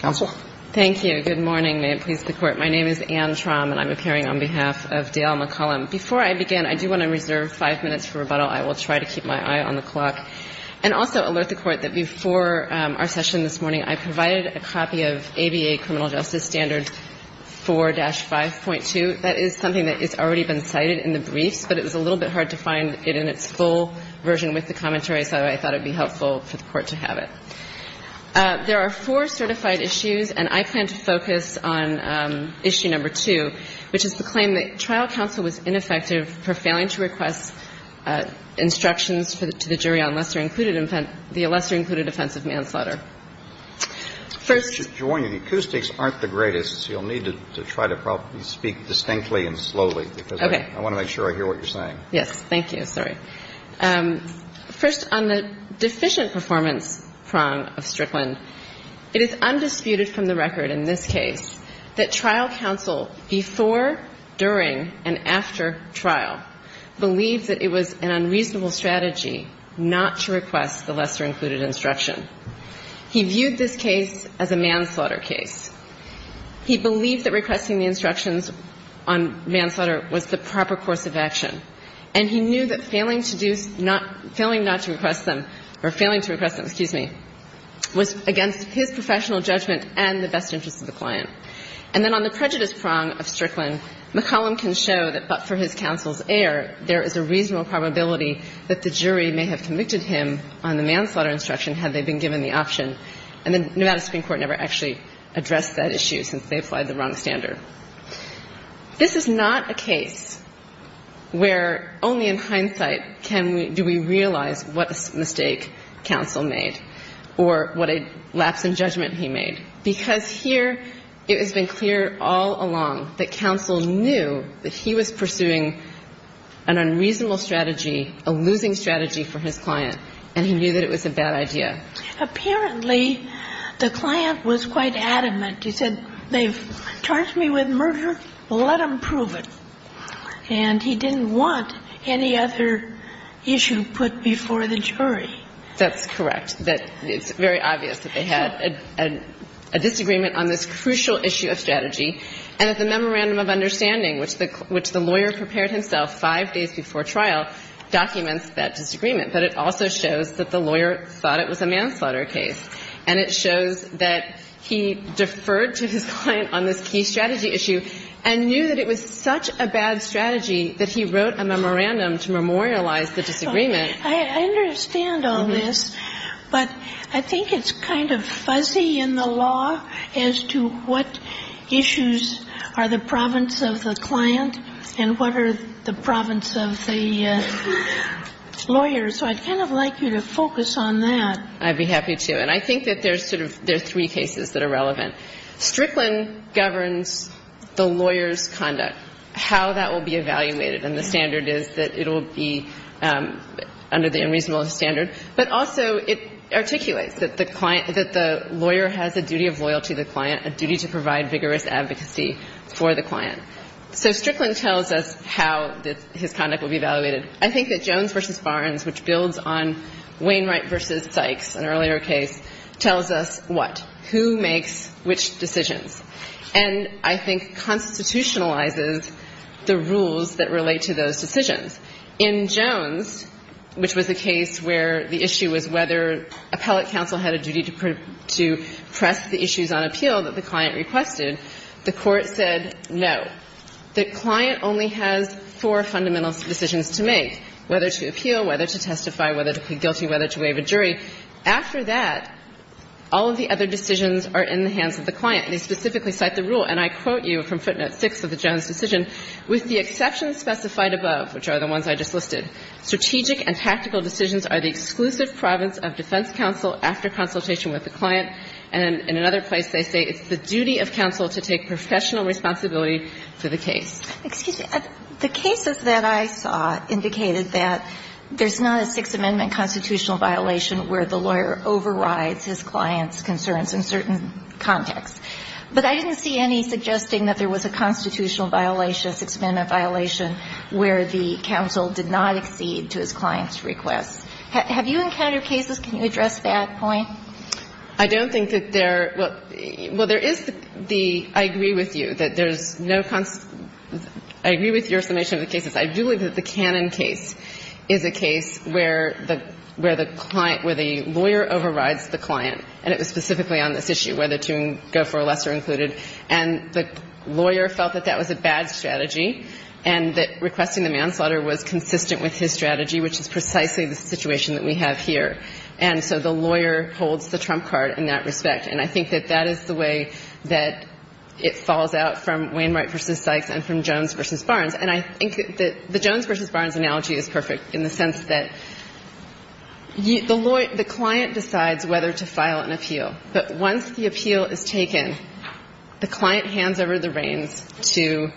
Counsel. Thank you. Good morning. May it please the Court. My name is Anne Traum, and I'm appearing on behalf of Dale McCollum. Before I begin, I do want to reserve five minutes for rebuttal. I will try to keep my eye on the clock. And also alert the Court that before our session this morning, I provided a copy of ABA Criminal Justice Standard 4-5.2. That is something that has already been cited in the briefs, but it was a little bit hard to find it in its full version with the four certified issues, and I plan to focus on issue number two, which is the claim that trial counsel was ineffective for failing to request instructions to the jury on the lesser-included offense of manslaughter. First of all, your acoustics aren't the greatest, so you'll need to try to probably speak distinctly and slowly, because I want to make sure I hear what you're saying. Yes. Thank you. Sorry. First, on the deficient performance prong of Strickland, it is undisputed from the record in this case that trial counsel before, during, and after trial believed that it was an unreasonable strategy not to request the lesser-included instruction. He viewed this case as a manslaughter case. He believed that requesting the instructions on manslaughter was the proper course of action, and he knew that failing to do not to request them, or failing to request them, excuse me, was not the proper course of action, and he knew that failing to request them was not the proper course of action, and he knew that failing to request them was not the proper course of action, and he knew that failing to request them was not the proper course of action, excuse me, was against his professional judgment and the best interest of the client. And then on the prejudice prong of Strickland, McCollum can show that but for his counsel's error, there is a reasonable probability that the jury may have convicted him on the manslaughter instruction had they been given the option. And the Nevada Supreme Court never actually addressed that issue since they applied the wrong standard. This is not a case where only in hindsight can we do we realize what mistake counsel made or what a lapse in judgment he made, because here it has been clear all along that counsel knew that he was pursuing an unreasonable strategy, a losing strategy for his client, and he knew that it was a bad idea. Apparently, the client was quite adamant. He said, they've charged me with murder, let them prove it. And he didn't want any other issue put before the jury. That's correct, that it's very obvious that they had a disagreement on this crucial issue of strategy, and that the memorandum of understanding, which the lawyer prepared himself five days before trial, documents that disagreement. But it also shows that the lawyer thought it was a manslaughter case, and it shows that he deferred to his client on this key strategy issue and knew that it was such a bad strategy that he wrote a memorandum to memorialize the disagreement. I understand all this, but I think it's kind of fuzzy in the law as to what issues are the province of the client and what are the province of the lawyer. So I'd kind of like you to focus on that. I'd be happy to. And I think that there's sort of three cases that are relevant. Strickland governs the lawyer's conduct, how that will be evaluated, and the standard is that it will be under the unreasonable standard. But also, it articulates that the client – that the lawyer has a duty of loyalty to the client, a duty to provide vigorous advocacy for the client. So Strickland tells us how his conduct will be evaluated. I think that Jones v. Barnes, which builds on Wainwright v. Sykes, an earlier case, tells us what, who makes which decisions, and I think constitutionalizes the rules that relate to those decisions. In Jones, which was a case where the issue was whether appellate counsel had a duty to press the issues on appeal that the client requested, the Court said no. The client only has four fundamental decisions to make, whether to appeal, whether to testify, whether to plead guilty, whether to waive a jury. After that, all of the other decisions are in the hands of the client. They specifically cite the rule, and I quote you from footnote 6 of the Jones decision, with the exceptions specified above, which are the ones I just listed. Strategic and tactical decisions are the exclusive province of defense counsel after consultation with the client. And in another place, they say it's the duty of counsel to take professional responsibility for the case. Excuse me. The cases that I saw indicated that there's not a Sixth Amendment constitutional violation where the lawyer overrides his client's concerns in certain contexts. But I didn't see any suggesting that there was a constitutional violation, Sixth Amendment violation, where the counsel did not accede to his client's requests. Have you encountered cases? Can you address that point? I don't think that there – well, there is the – I agree with you that there's no – I agree with your summation of the cases. I do believe that the Cannon case is a case where the client – where the lawyer overrides the client, and it was specifically on this issue, whether to go for a lesser included. And the lawyer felt that that was a bad strategy and that requesting the manslaughter was consistent with his strategy, which is precisely the situation that we have here. And so the lawyer holds the trump card in that respect. And I think that that is the way that it falls out from Wainwright v. Sykes and from Jones v. Barnes. And I think that the Jones v. Barnes analogy is perfect in the sense that the lawyer – the client decides whether to file an appeal. But once the appeal is taken, the client hands over the reins to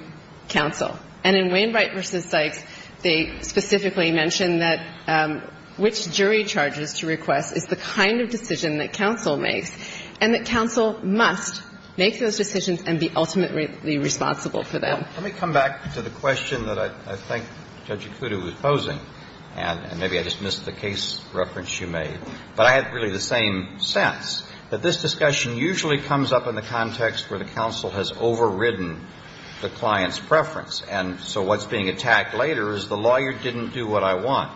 counsel. And in Wainwright v. Sykes, they specifically mention that which jury charges to request is the kind of decision that counsel makes, and that counsel must make those decisions and be ultimately responsible for them. Let me come back to the question that I think Judge Ikuto was posing, and maybe I just missed the case reference you made. But I have really the same sense, that this discussion usually comes up in the context where the counsel has overridden the client's preference. And so what's being attacked later is the lawyer didn't do what I want.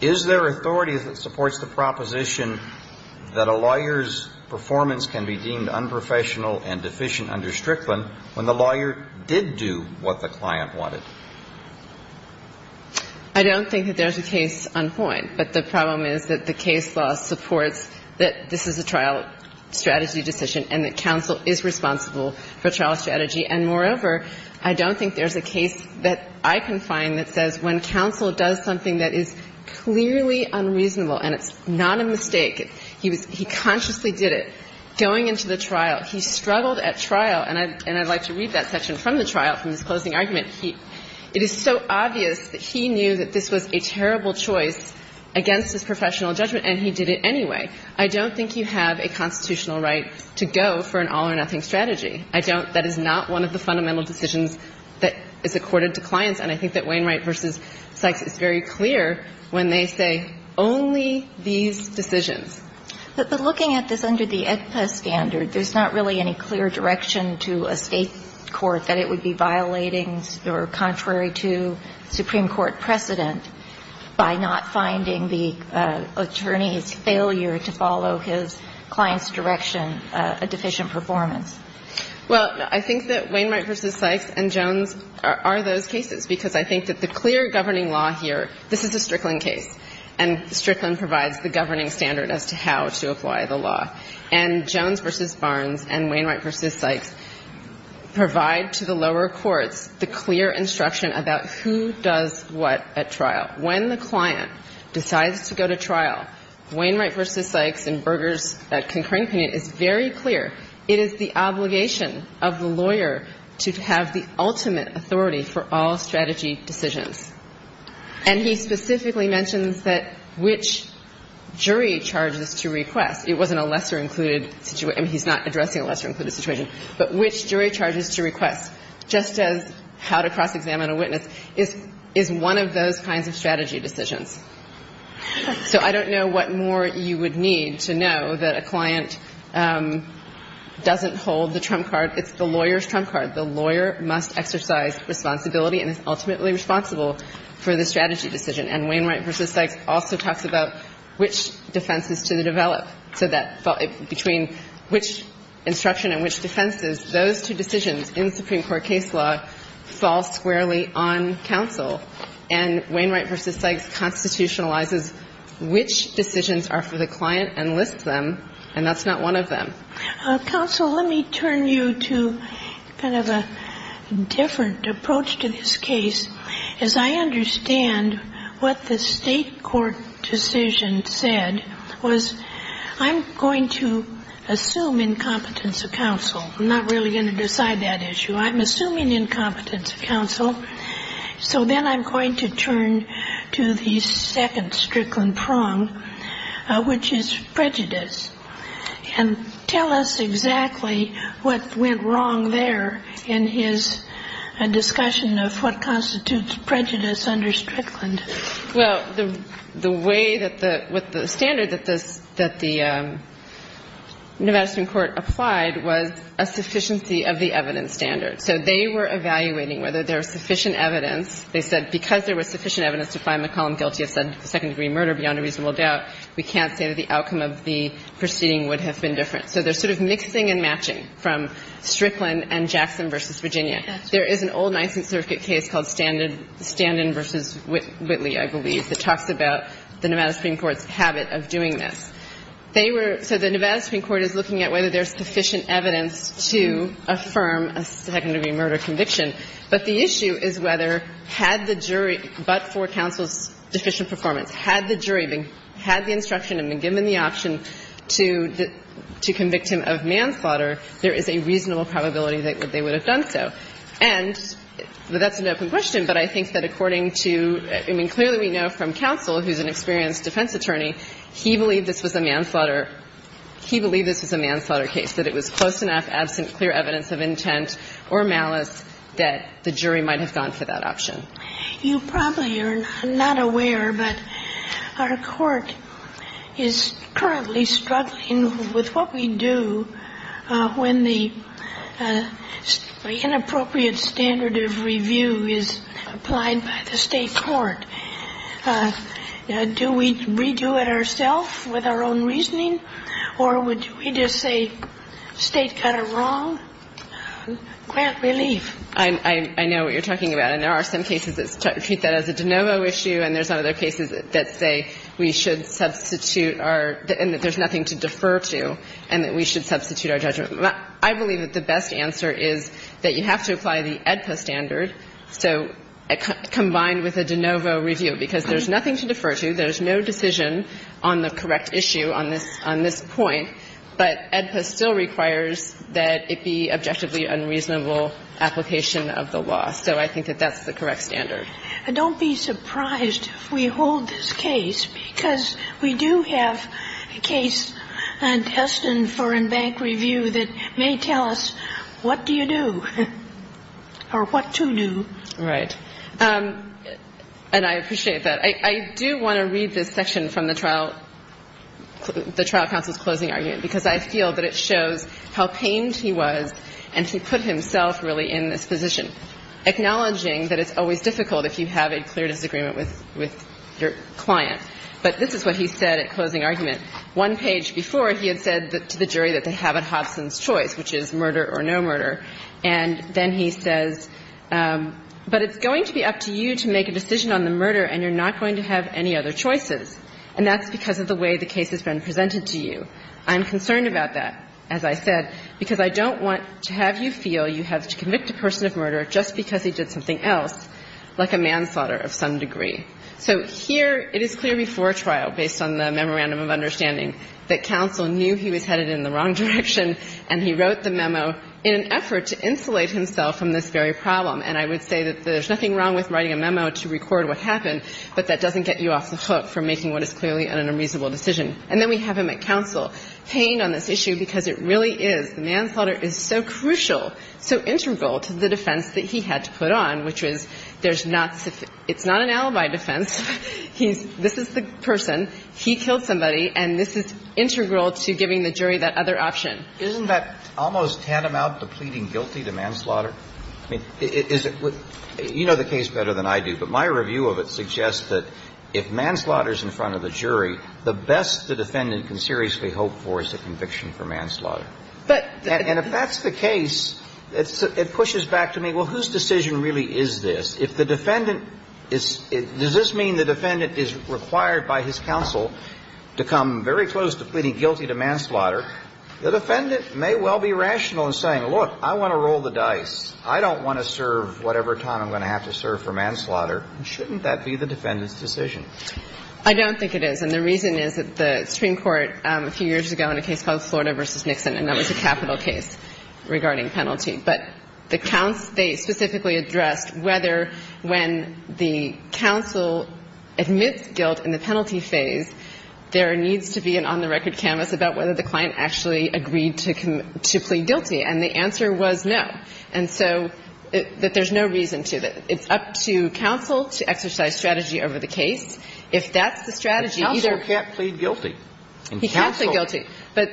Is there authority that supports the proposition that a lawyer's performance can be deemed unprofessional and deficient under Strickland when the lawyer did do what the client wanted? I don't think that there's a case on point, but the problem is that the case law supports that this is a trial strategy decision and that counsel is responsible for trial strategy. And moreover, I don't think there's a case that I can find that says when counsel does something that is clearly unreasonable, and it's not a mistake, he was – he consciously did it. Going into the trial, he struggled at trial. And I'd like to read that section from the trial, from his closing argument. It is so obvious that he knew that this was a terrible choice against his professional judgment, and he did it anyway. I don't think you have a constitutional right to go for an all-or-nothing strategy. I don't. That is not one of the fundamental decisions that is accorded to clients, and I think that Wainwright v. Sykes is very clear when they say only these decisions. But looking at this under the AEDPA standard, there's not really any clear direction to a State court that it would be violating or contrary to Supreme Court precedent by not finding the attorney's failure to follow his client's direction a deficient performance. Well, I think that Wainwright v. Sykes and Jones are those cases, because I think that the clear governing law here – this is a Strickland case, and Strickland provides the governing standard as to how to apply the law. And Jones v. Barnes and Wainwright v. Sykes provide to the lower courts the clear instruction about who does what at trial. When the client decides to go to trial, Wainwright v. Sykes and Berger's concurring opinion is very clear. It is the obligation of the lawyer to have the ultimate authority for all strategy decisions. And he specifically mentions that which jury charges to request. It wasn't a lesser-included situation. I mean, he's not addressing a lesser-included situation, but which jury charges to request, just as how to cross-examine a witness, is one of those kinds of strategy decisions. So I don't know what more you would need to know that a client doesn't hold the trump card. It's the lawyer's trump card. The lawyer must exercise responsibility and is ultimately responsible for the strategy decision. And Wainwright v. Sykes also talks about which defenses to develop, so that between which instruction and which defenses, those two decisions in Supreme Court case law fall squarely on counsel. And Wainwright v. Sykes constitutionalizes which decisions are for the client and lists them, and that's not one of them. Counsel, let me turn you to kind of a different approach to this case. As I understand what the State court decision said was, I'm going to assume incompetence of counsel. I'm not really going to decide that issue. I'm assuming incompetence of counsel. So then I'm going to turn to the second Strickland prong, which is prejudice, and tell us exactly what went wrong there in his discussion of what constitutes prejudice under Strickland. Well, the way that the standard that the New Madison court applied was a sufficiency of the evidence standard. So they were evaluating whether there was sufficient evidence. They said because there was sufficient evidence to find McCollum guilty of second-degree murder beyond a reasonable doubt, we can't say that the outcome of the proceeding would have been different. So there's sort of mixing and matching from Strickland and Jackson v. Virginia. There is an old Nisant Circuit case called Standen v. Whitley, I believe, that talks about the Nevada Supreme Court's habit of doing this. They were so the Nevada Supreme Court is looking at whether there's sufficient evidence to affirm a second-degree murder conviction. But the issue is whether, had the jury, but for counsel's deficient performance, had the jury had the instruction and been given the option to convict him of manslaughter, there is a reasonable probability that they would have done so. And that's an open question, but I think that according to – I mean, clearly we know from counsel, who's an experienced defense attorney, he believed this was a manslaughter. He believed this was a manslaughter case, that it was close enough, absent clear evidence of intent or malice, that the jury might have gone for that option. You probably are not aware, but our Court is currently struggling with what we do when the inappropriate standard of review is applied by the State court. Do we redo it ourself with our own reasoning, or would we just say State got it wrong? Grant relief. I know what you're talking about, and there are some cases that treat that as a de novo issue, and there's other cases that say we should substitute our – and that there's nothing to defer to, and that we should substitute our judgment. I believe that the best answer is that you have to apply the AEDPA standard, so combined with a de novo review, because there's nothing to defer to, there's no decision on the correct issue on this point, but AEDPA still requires that it be objectively unreasonable application of the law. So I think that that's the correct standard. And don't be surprised if we hold this case, because we do have a case on test and foreign bank review that may tell us what do you do, or what to do. Right. And I appreciate that. I do want to read this section from the trial – the trial counsel's closing argument, because I feel that it shows how pained he was, and he put himself really in this position, acknowledging that it's always difficult if you have a clear disagreement with your client. But this is what he said at closing argument. One page before, he had said to the jury that they have a Hobson's choice, which is murder or no murder, and then he says, but it's going to be up to you to make a decision on the murder, and you're not going to have any other choices, and that's because of the way the case has been presented to you. I'm concerned about that, as I said, because I don't want to have you feel you have to convict a person of murder just because he did something else, like a manslaughter of some degree. So here, it is clear before trial, based on the memorandum of understanding, that counsel knew he was headed in the wrong direction, and he wrote the memo in an effort to insulate himself from this very problem. And I would say that there's nothing wrong with writing a memo to record what happened, but that doesn't get you off the hook for making what is clearly an unreasonable decision. And then we have him at counsel paying on this issue because it really is, the manslaughter is so crucial, so integral to the defense that he had to put on, which is there's not so – it's not an alibi defense. He's – this is the person. He killed somebody, and this is integral to giving the jury that other option. Isn't that almost tantamount to pleading guilty to manslaughter? I mean, is it – you know the case better than I do, but my review of it suggests that if manslaughter is in front of the jury, the best the defendant can seriously hope for is a conviction for manslaughter. And if that's the case, it pushes back to me, well, whose decision really is this? If the defendant is – does this mean the defendant is required by his counsel to come very close to pleading guilty to manslaughter? The defendant may well be rational in saying, look, I want to roll the dice. I don't want to serve whatever time I'm going to have to serve for manslaughter. Shouldn't that be the defendant's decision? I don't think it is. And the reason is that the Supreme Court a few years ago in a case called Florida v. Nixon, and that was a capital case regarding penalty. But the counsel – they specifically addressed whether when the counsel admits guilt in the penalty phase, there needs to be an on-the-record canvas about whether the client actually agreed to plead guilty. And the answer was no. And so that there's no reason to. It's up to counsel to exercise strategy over the case. If that's the strategy, either – But counsel can't plead guilty. He can't plead guilty. But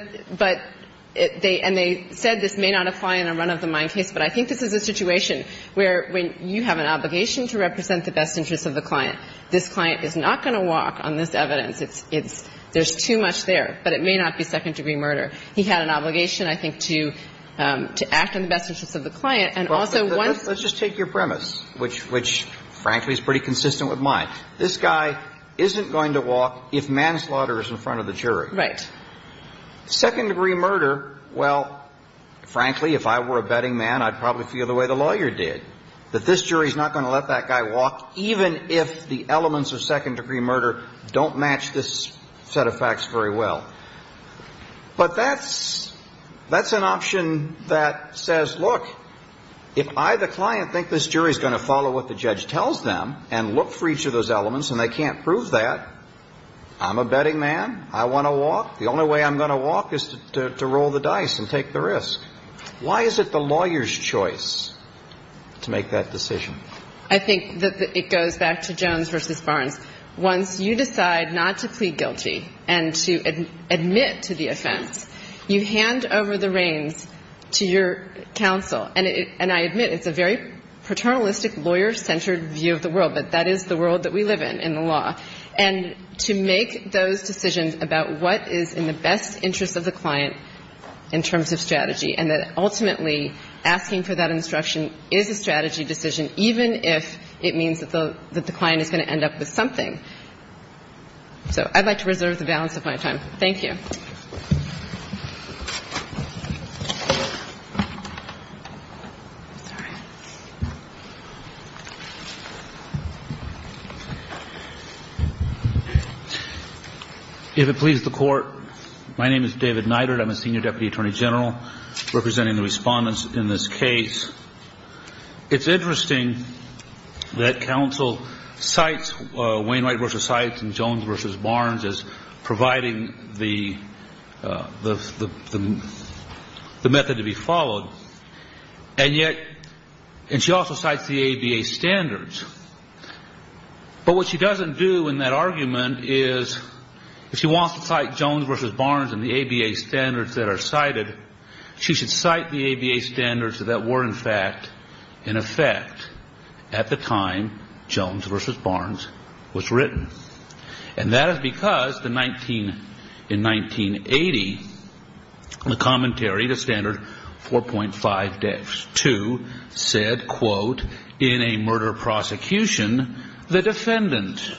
they – and they said this may not apply in a run-of-the-mind case, but I think this is a situation where when you have an obligation to represent the best interests of the client, this client is not going to walk on this evidence. It's – there's too much there, but it may not be second-degree murder. He had an obligation, I think, to act on the best interests of the client, and also once – But let's just take your premise, which, frankly, is pretty consistent with mine. This guy isn't going to walk if manslaughter is in front of the jury. Right. Second-degree murder, well, frankly, if I were a betting man, I'd probably feel the way the lawyer did, that this jury is not going to let that guy walk even if the elements of second-degree murder don't match this set of facts very well. But that's – that's an option that says, look, if I, the client, think this jury is going to follow what the judge tells them and look for each of those elements and they can't prove that, I'm a betting man. I want to walk. The only way I'm going to walk is to roll the dice and take the risk. Why is it the lawyer's choice to make that decision? I think that it goes back to Jones versus Barnes. Once you decide not to plead guilty and to admit to the offense, you hand over the reins to your counsel, and I admit it's a very paternalistic, lawyer-centered view of the world, but that is the world that we live in, in the law, and to make those decisions about what is in the best interest of the client in terms of strategy and that ultimately asking for that instruction is a strategy decision even if it doesn't mean it's going to end up with something. So I'd like to reserve the balance of my time. Thank you. If it pleases the Court, my name is David Neidert. I'm a senior deputy attorney general representing the Respondents in this case. It's interesting that counsel cites Wainwright versus Sykes and Jones versus Barnes as providing the method to be followed, and yet she also cites the ABA standards. But what she doesn't do in that argument is if she wants to cite Jones versus Barnes and the ABA standards that are cited, she should cite the ABA standards that were, in fact, in effect at the time Jones versus Barnes was written. And that is because in 1980, the commentary, the standard 4.52, said, quote, in a murder prosecution, the defendant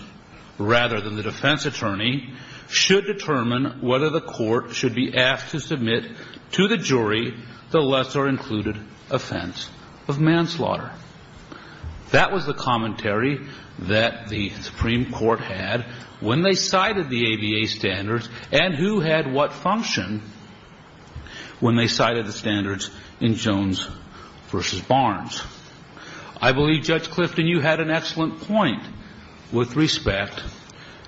rather than the defense attorney should determine whether the court should be asked to submit to the jury the lesser included offense of manslaughter. That was the commentary that the Supreme Court had when they cited the ABA standards and who had what function when they cited the standards in Jones versus Barnes. I believe, Judge Clifton, you had an excellent point with respect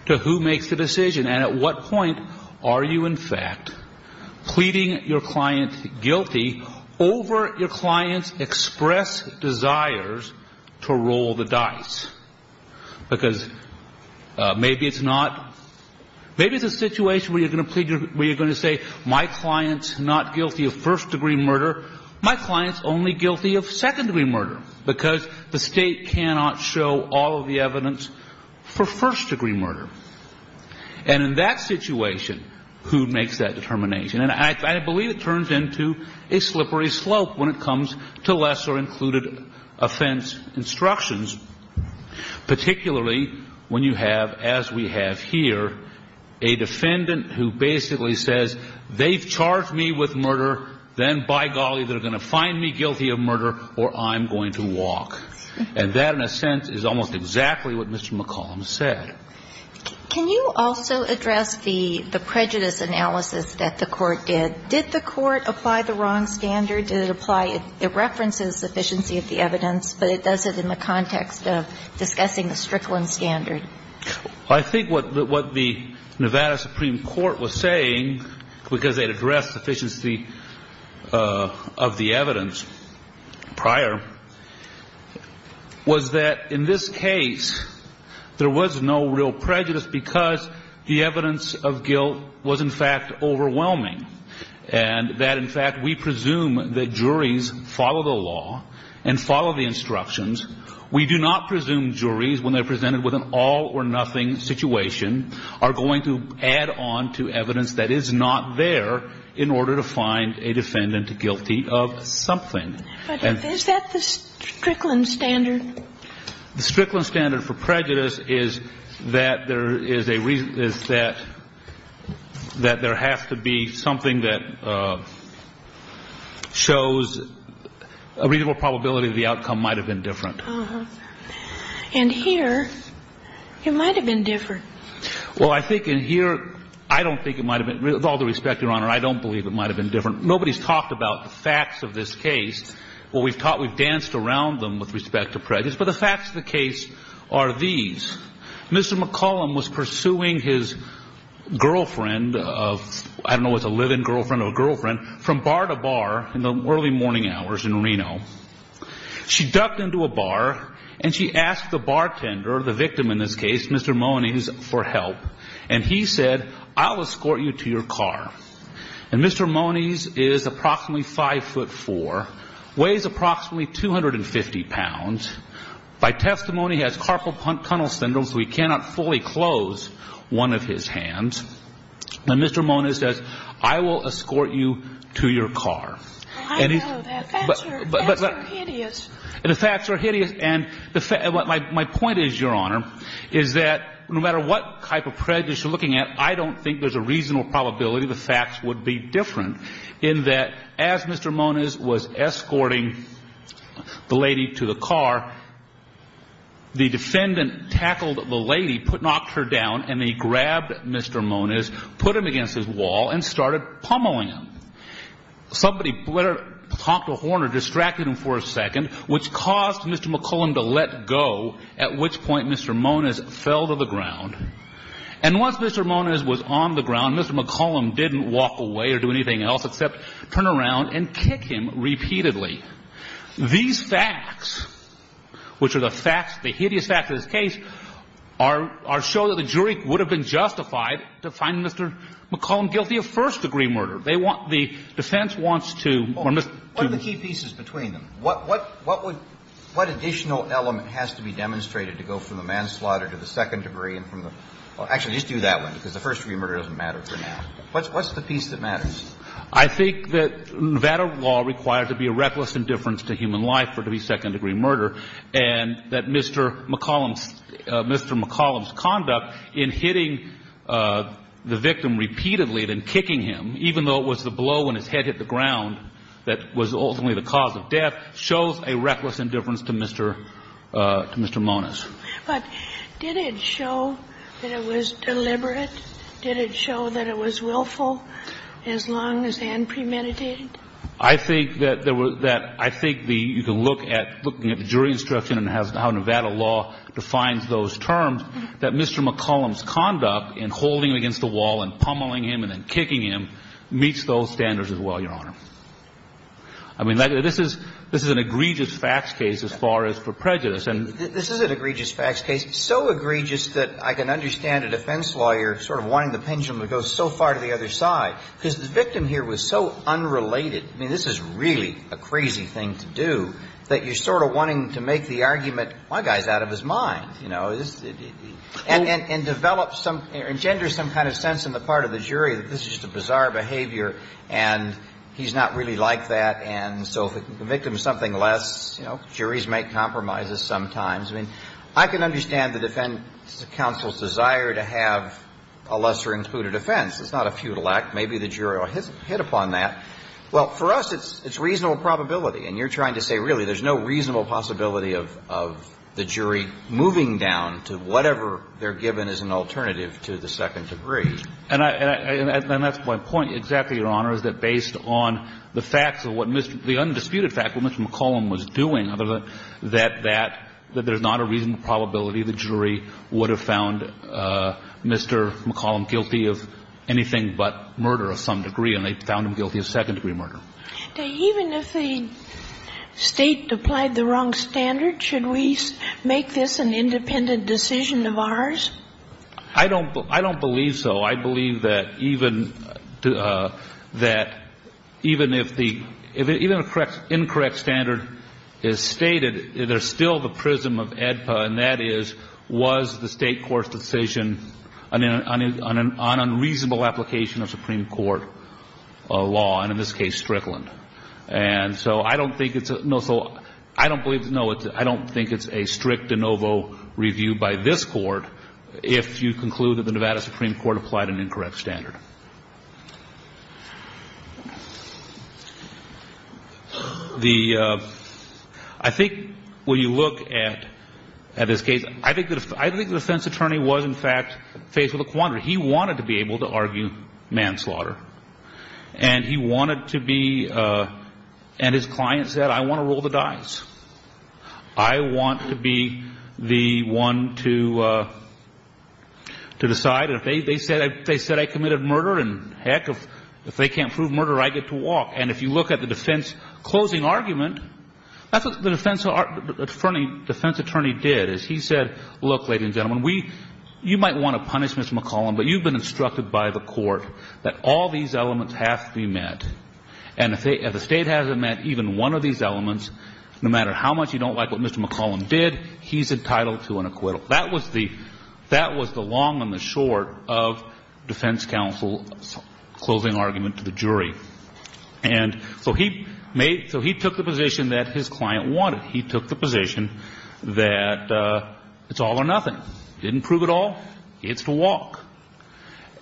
to who makes the decision and at what point are you, in fact, pleading your client guilty over your client's express desires to roll the dice. Because maybe it's not – maybe it's a situation where you're going to plead your – where you're going to say my client's not guilty of first-degree murder, my client's only guilty of second-degree murder, because the State cannot show all of the evidence for first-degree murder. And in that situation, who makes that determination? And I believe it turns into a slippery slope when it comes to lesser included offense instructions, particularly when you have, as we have here, a defendant who basically says they've charged me with murder, then by golly, they're going to find me guilty of murder or I'm going to walk. And that, in a sense, is almost exactly what Mr. McCollum said. Can you also address the prejudice analysis that the Court did? Did the Court apply the wrong standard? Did it apply – it references sufficiency of the evidence, but it does it in the context of discussing the Strickland standard. Well, I think what the Nevada Supreme Court was saying, because they had addressed sufficiency of the evidence prior, was that in this case, there was no real prejudice because the evidence of guilt was, in fact, overwhelming, and that, in fact, we presume that juries follow the law and follow the instructions. We do not presume juries, when they're presented with an all-or-nothing situation, are going to add on to evidence that is not there in order to find a defendant guilty of something. But is that the Strickland standard? The Strickland standard for prejudice is that there is a – is that there has to be something that shows a reasonable probability that the outcome might have been different. Uh-huh. And here, it might have been different. Well, I think in here, I don't think it might have been – with all due respect, Your Honor, I don't believe it might have been different. Nobody's talked about the facts of this case. Well, we've taught – we've danced around them with respect to prejudice. But the facts of the case are these. Mr. McCollum was pursuing his girlfriend of – I don't know if it was a live-in girlfriend or a girlfriend – from bar to bar in the early morning hours in Reno. She ducked into a bar, and she asked the bartender, the victim in this case, Mr. Mone, Mr. Mone's, for help. And he said, I'll escort you to your car. And Mr. Mone's is approximately 5'4", weighs approximately 250 pounds. By testimony, he has carpal tunnel syndrome, so he cannot fully close one of his hands. And Mr. Mone says, I will escort you to your car. I know. The facts are hideous. The facts are hideous. My point is, Your Honor, is that no matter what type of prejudice you're looking at, I don't think there's a reasonable probability the facts would be different in that, as Mr. Mone was escorting the lady to the car, the defendant tackled the lady, knocked her down, and he grabbed Mr. Mone, put him against his wall, and started pummeling him. Somebody talked a horn or distracted him for a second, which caused Mr. McCollum to let go, at which point Mr. Mone's fell to the ground. And once Mr. Mone's was on the ground, Mr. McCollum didn't walk away or do anything else except turn around and kick him repeatedly. These facts, which are the facts, the hideous facts of this case, show that the jury would have been justified to find Mr. McCollum guilty of first-degree murder. They want the defense wants to or Mr. Mone. What are the key pieces between them? What additional element has to be demonstrated to go from the manslaughter to the second-degree and from the – well, actually, just do that one, because the first-degree murder doesn't matter for now. What's the piece that matters? I think that Nevada law requires there to be a reckless indifference to human life for it to be second-degree murder, and that Mr. McCollum's conduct in hitting the victim repeatedly and then kicking him, even though it was the blow when his head hit the ground that was ultimately the cause of death, shows a reckless indifference to Mr. – to Mr. Mone's. But did it show that it was deliberate? Did it show that it was willful as long as Ann premeditated? I think that there was – that I think the – you can look at – looking at the jury instruction and how Nevada law defines those terms, that Mr. McCollum's conduct in holding him against the wall and pummeling him and then kicking him meets those standards as well, Your Honor. I mean, this is – this is an egregious facts case as far as for prejudice, and – This is an egregious facts case, so egregious that I can understand a defense lawyer sort of wanting the pendulum to go so far to the other side, because the victim here was so unrelated. I mean, this is really a crazy thing to do, that you're sort of wanting to make the argument, my guy's out of his mind, you know. And develop some – engender some kind of sense in the part of the jury that this is just a bizarre behavior and he's not really like that, and so if the victim is something less, you know, juries make compromises sometimes. I mean, I can understand the defense counsel's desire to have a lesser included offense. It's not a futile act. Maybe the jury will hit upon that. Well, for us, it's reasonable probability, and you're trying to say, really, there's no reasonable possibility of the jury moving down to whatever they're given as an alternative to the second degree. And I – and that's my point, exactly, Your Honor, is that based on the facts of what Mr. – the undisputed facts of what Mr. McCollum was doing, other than that that – that there's not a reasonable probability the jury would have found Mr. McCollum guilty of anything but murder of some degree, and they found him guilty of second-degree murder. Now, even if the State applied the wrong standard, should we make this an independent decision of ours? I don't – I don't believe so. I believe that even – that even if the – even if the incorrect standard is stated, there's still the prism of AEDPA, and that is, was the State court's decision on unreasonable application of Supreme Court law, and in this case, Strickland? And so I don't think it's – no, so I don't believe – no, I don't think it's a strict de novo review by this Court if you conclude that the Nevada Supreme Court applied an incorrect standard. The – I think when you look at – at this case, I think the – I think the defense attorney was, in fact, faced with a quandary. He wanted to be able to argue manslaughter, and he wanted to be – and his client said, I want to roll the dice. I want to be the one to – to decide. And if they – they said – they said I committed murder, and heck, if they can't prove murder, I get to walk. And if you look at the defense closing argument, that's what the defense attorney did, is he said, look, ladies and gentlemen, we – you might want to punish Mr. McCollum, but you've been instructed by the Court that all these elements have to be met. And if they – if the State hasn't met even one of these elements, no matter how much you don't like what Mr. McCollum did, he's entitled to an acquittal. That was the – that was the long and the short of defense counsel's closing argument to the jury. And so he made – so he took the position that his client wanted. He took the position that it's all or nothing. He didn't prove it all. He gets to walk.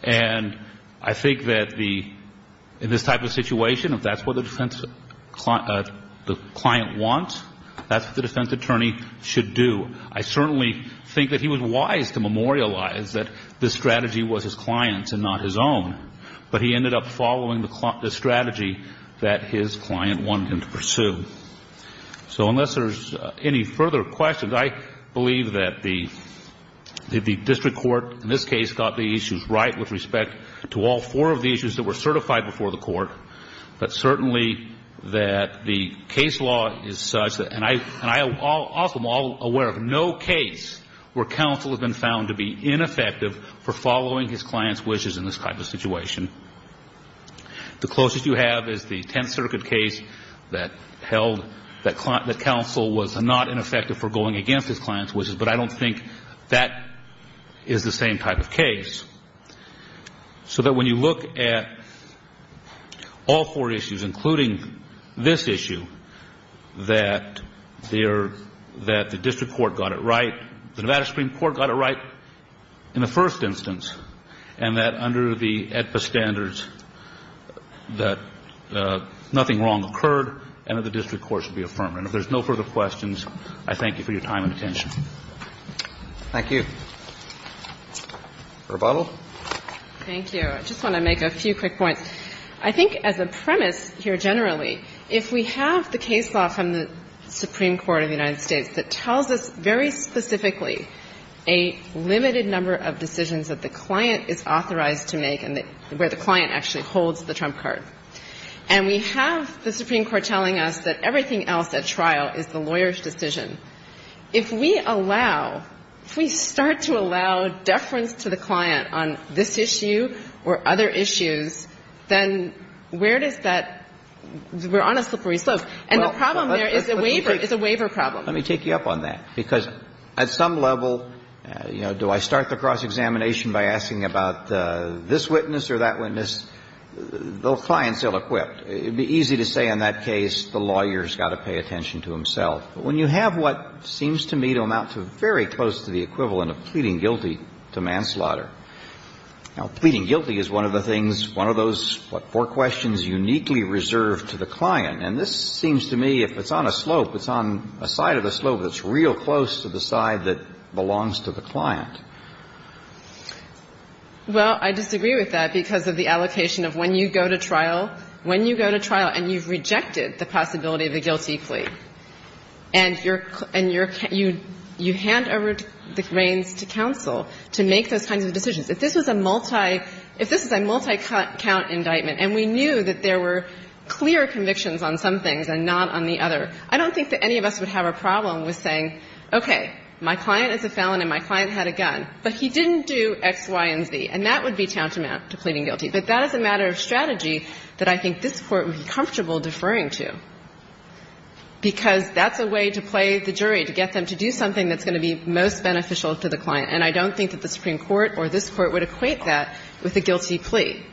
And I think that the – in this type of situation, if that's what the defense – the client wants, that's what the defense attorney should do. I certainly think that he was wise to memorialize that this strategy was his client's and not his own. But he ended up following the strategy that his client wanted him to pursue. So unless there's any further questions, I believe that the – that the district court in this case got the issues right with respect to all four of the issues that were certified before the Court, but certainly that the case law is such that – and I – and I also am aware of no case where counsel has been found to be ineffective for following his client's wishes in this type of situation. The closest you have is the Tenth Circuit case that held that counsel was not ineffective for going against his client's wishes. But I don't think that is the same type of case. So that when you look at all four issues, including this issue, that there – that the district court got it right – the Nevada Supreme Court got it right in the first instance, and that under the AEDPA standards, that nothing wrong occurred and that the district court should be affirmed. And if there's no further questions, I thank you for your time and attention. Thank you. Rebuttal? Thank you. I just want to make a few quick points. I think as a premise here generally, if we have the case law from the Supreme Court of the United States that tells us very specifically a limited number of decisions that the client is authorized to make and that – where the client actually holds the trump card, and we have the Supreme Court telling us that everything else at trial is the lawyer's decision, if we allow – if we start to allow deference to the client on this issue or other issues, then where does that – we're on a slippery slope. And the problem there is a waiver – is a waiver problem. Let me take you up on that. Because at some level, you know, do I start the cross-examination by asking about this witness or that witness? The client's ill-equipped. It would be easy to say in that case the lawyer's got to pay attention to himself. But when you have what seems to me to amount to very close to the equivalent of pleading guilty to manslaughter – now, pleading guilty is one of the things – one of those, what, four questions uniquely reserved to the client. And this seems to me, if it's on a slope, it's on a side of the slope that's real close to the side that belongs to the client. Well, I disagree with that because of the allocation of when you go to trial – when you go to trial and you've rejected the possibility of a guilty plea, and you're – and you're – you hand over the reins to counsel to make those kinds of decisions. If this was a multi – if this was a multi-count indictment and we knew that there were clear convictions on some things and not on the other, I don't think that any of us would have a problem with saying, okay, my client is a felon and my client had a gun, but he didn't do X, Y, and Z. And that would be tantamount to pleading guilty. But that is a matter of strategy that I think this Court would be comfortable deferring to, because that's a way to play the jury, to get them to do something that's going to be most beneficial to the client. And I don't think that the Supreme Court or this Court would equate that with a guilty plea.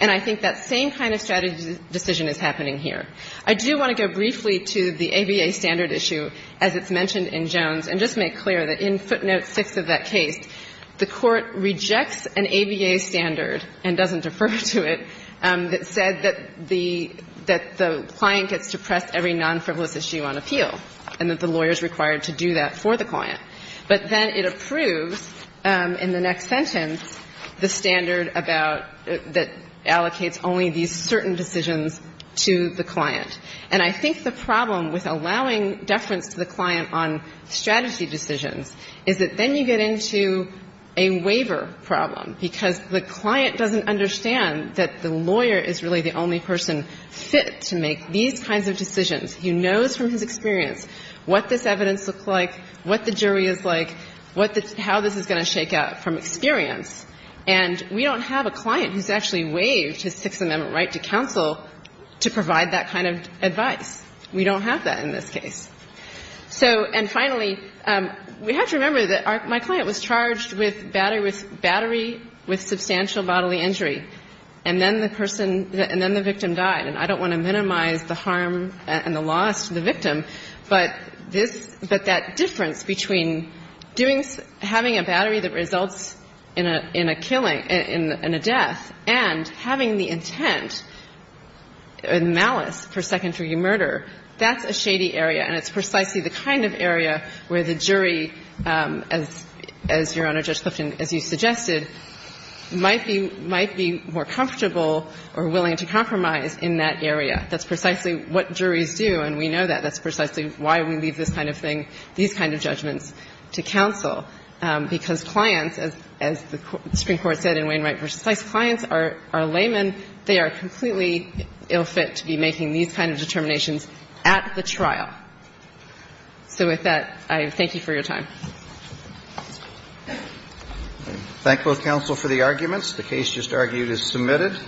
And I think that same kind of strategy decision is happening here. I do want to go briefly to the ABA standard issue, as it's mentioned in Jones, and just make clear that in footnote 6 of that case, the Court rejects an ABA standard and doesn't defer to it that said that the – that the client gets to press every non-frivolous issue on appeal and that the lawyer is required to do that for the client. But then it approves in the next sentence the standard about – that allocates only these certain decisions to the client. And I think the problem with allowing deference to the client on strategy decisions is that then you get into a waiver problem, because the client doesn't understand that the lawyer is really the only person fit to make these kinds of decisions. He knows from his experience what this evidence looks like, what the jury is like, what the – how this is going to shake out from experience. And we don't have a client who's actually waived his Sixth Amendment right to counsel to provide that kind of advice. We don't have that in this case. So – and finally, we have to remember that our – my client was charged with battery with substantial bodily injury, and then the person – and then the victim died. And I don't want to minimize the harm and the loss to the victim, but this – but that difference between doing – having a battery that results in a – in a killing – in a death and having the intent and malice for secondary murder, that's a shady area, and it's precisely the kind of area where the jury, as Your Honor, Judge Clifton, as you suggested, might be – might be more comfortable or willing to compromise in that area. That's precisely what juries do, and we know that. That's precisely why we leave this kind of thing, these kind of judgments, to counsel, because clients, as the Supreme Court said in Wainwright v. Weiss, clients are laymen. They are completely ill-fit to be making these kind of determinations at the trial. So with that, I thank you for your time. Thank you. Roberts. Thank you. Thank you. Thank both counsel for the arguments. The case just argued is submitted.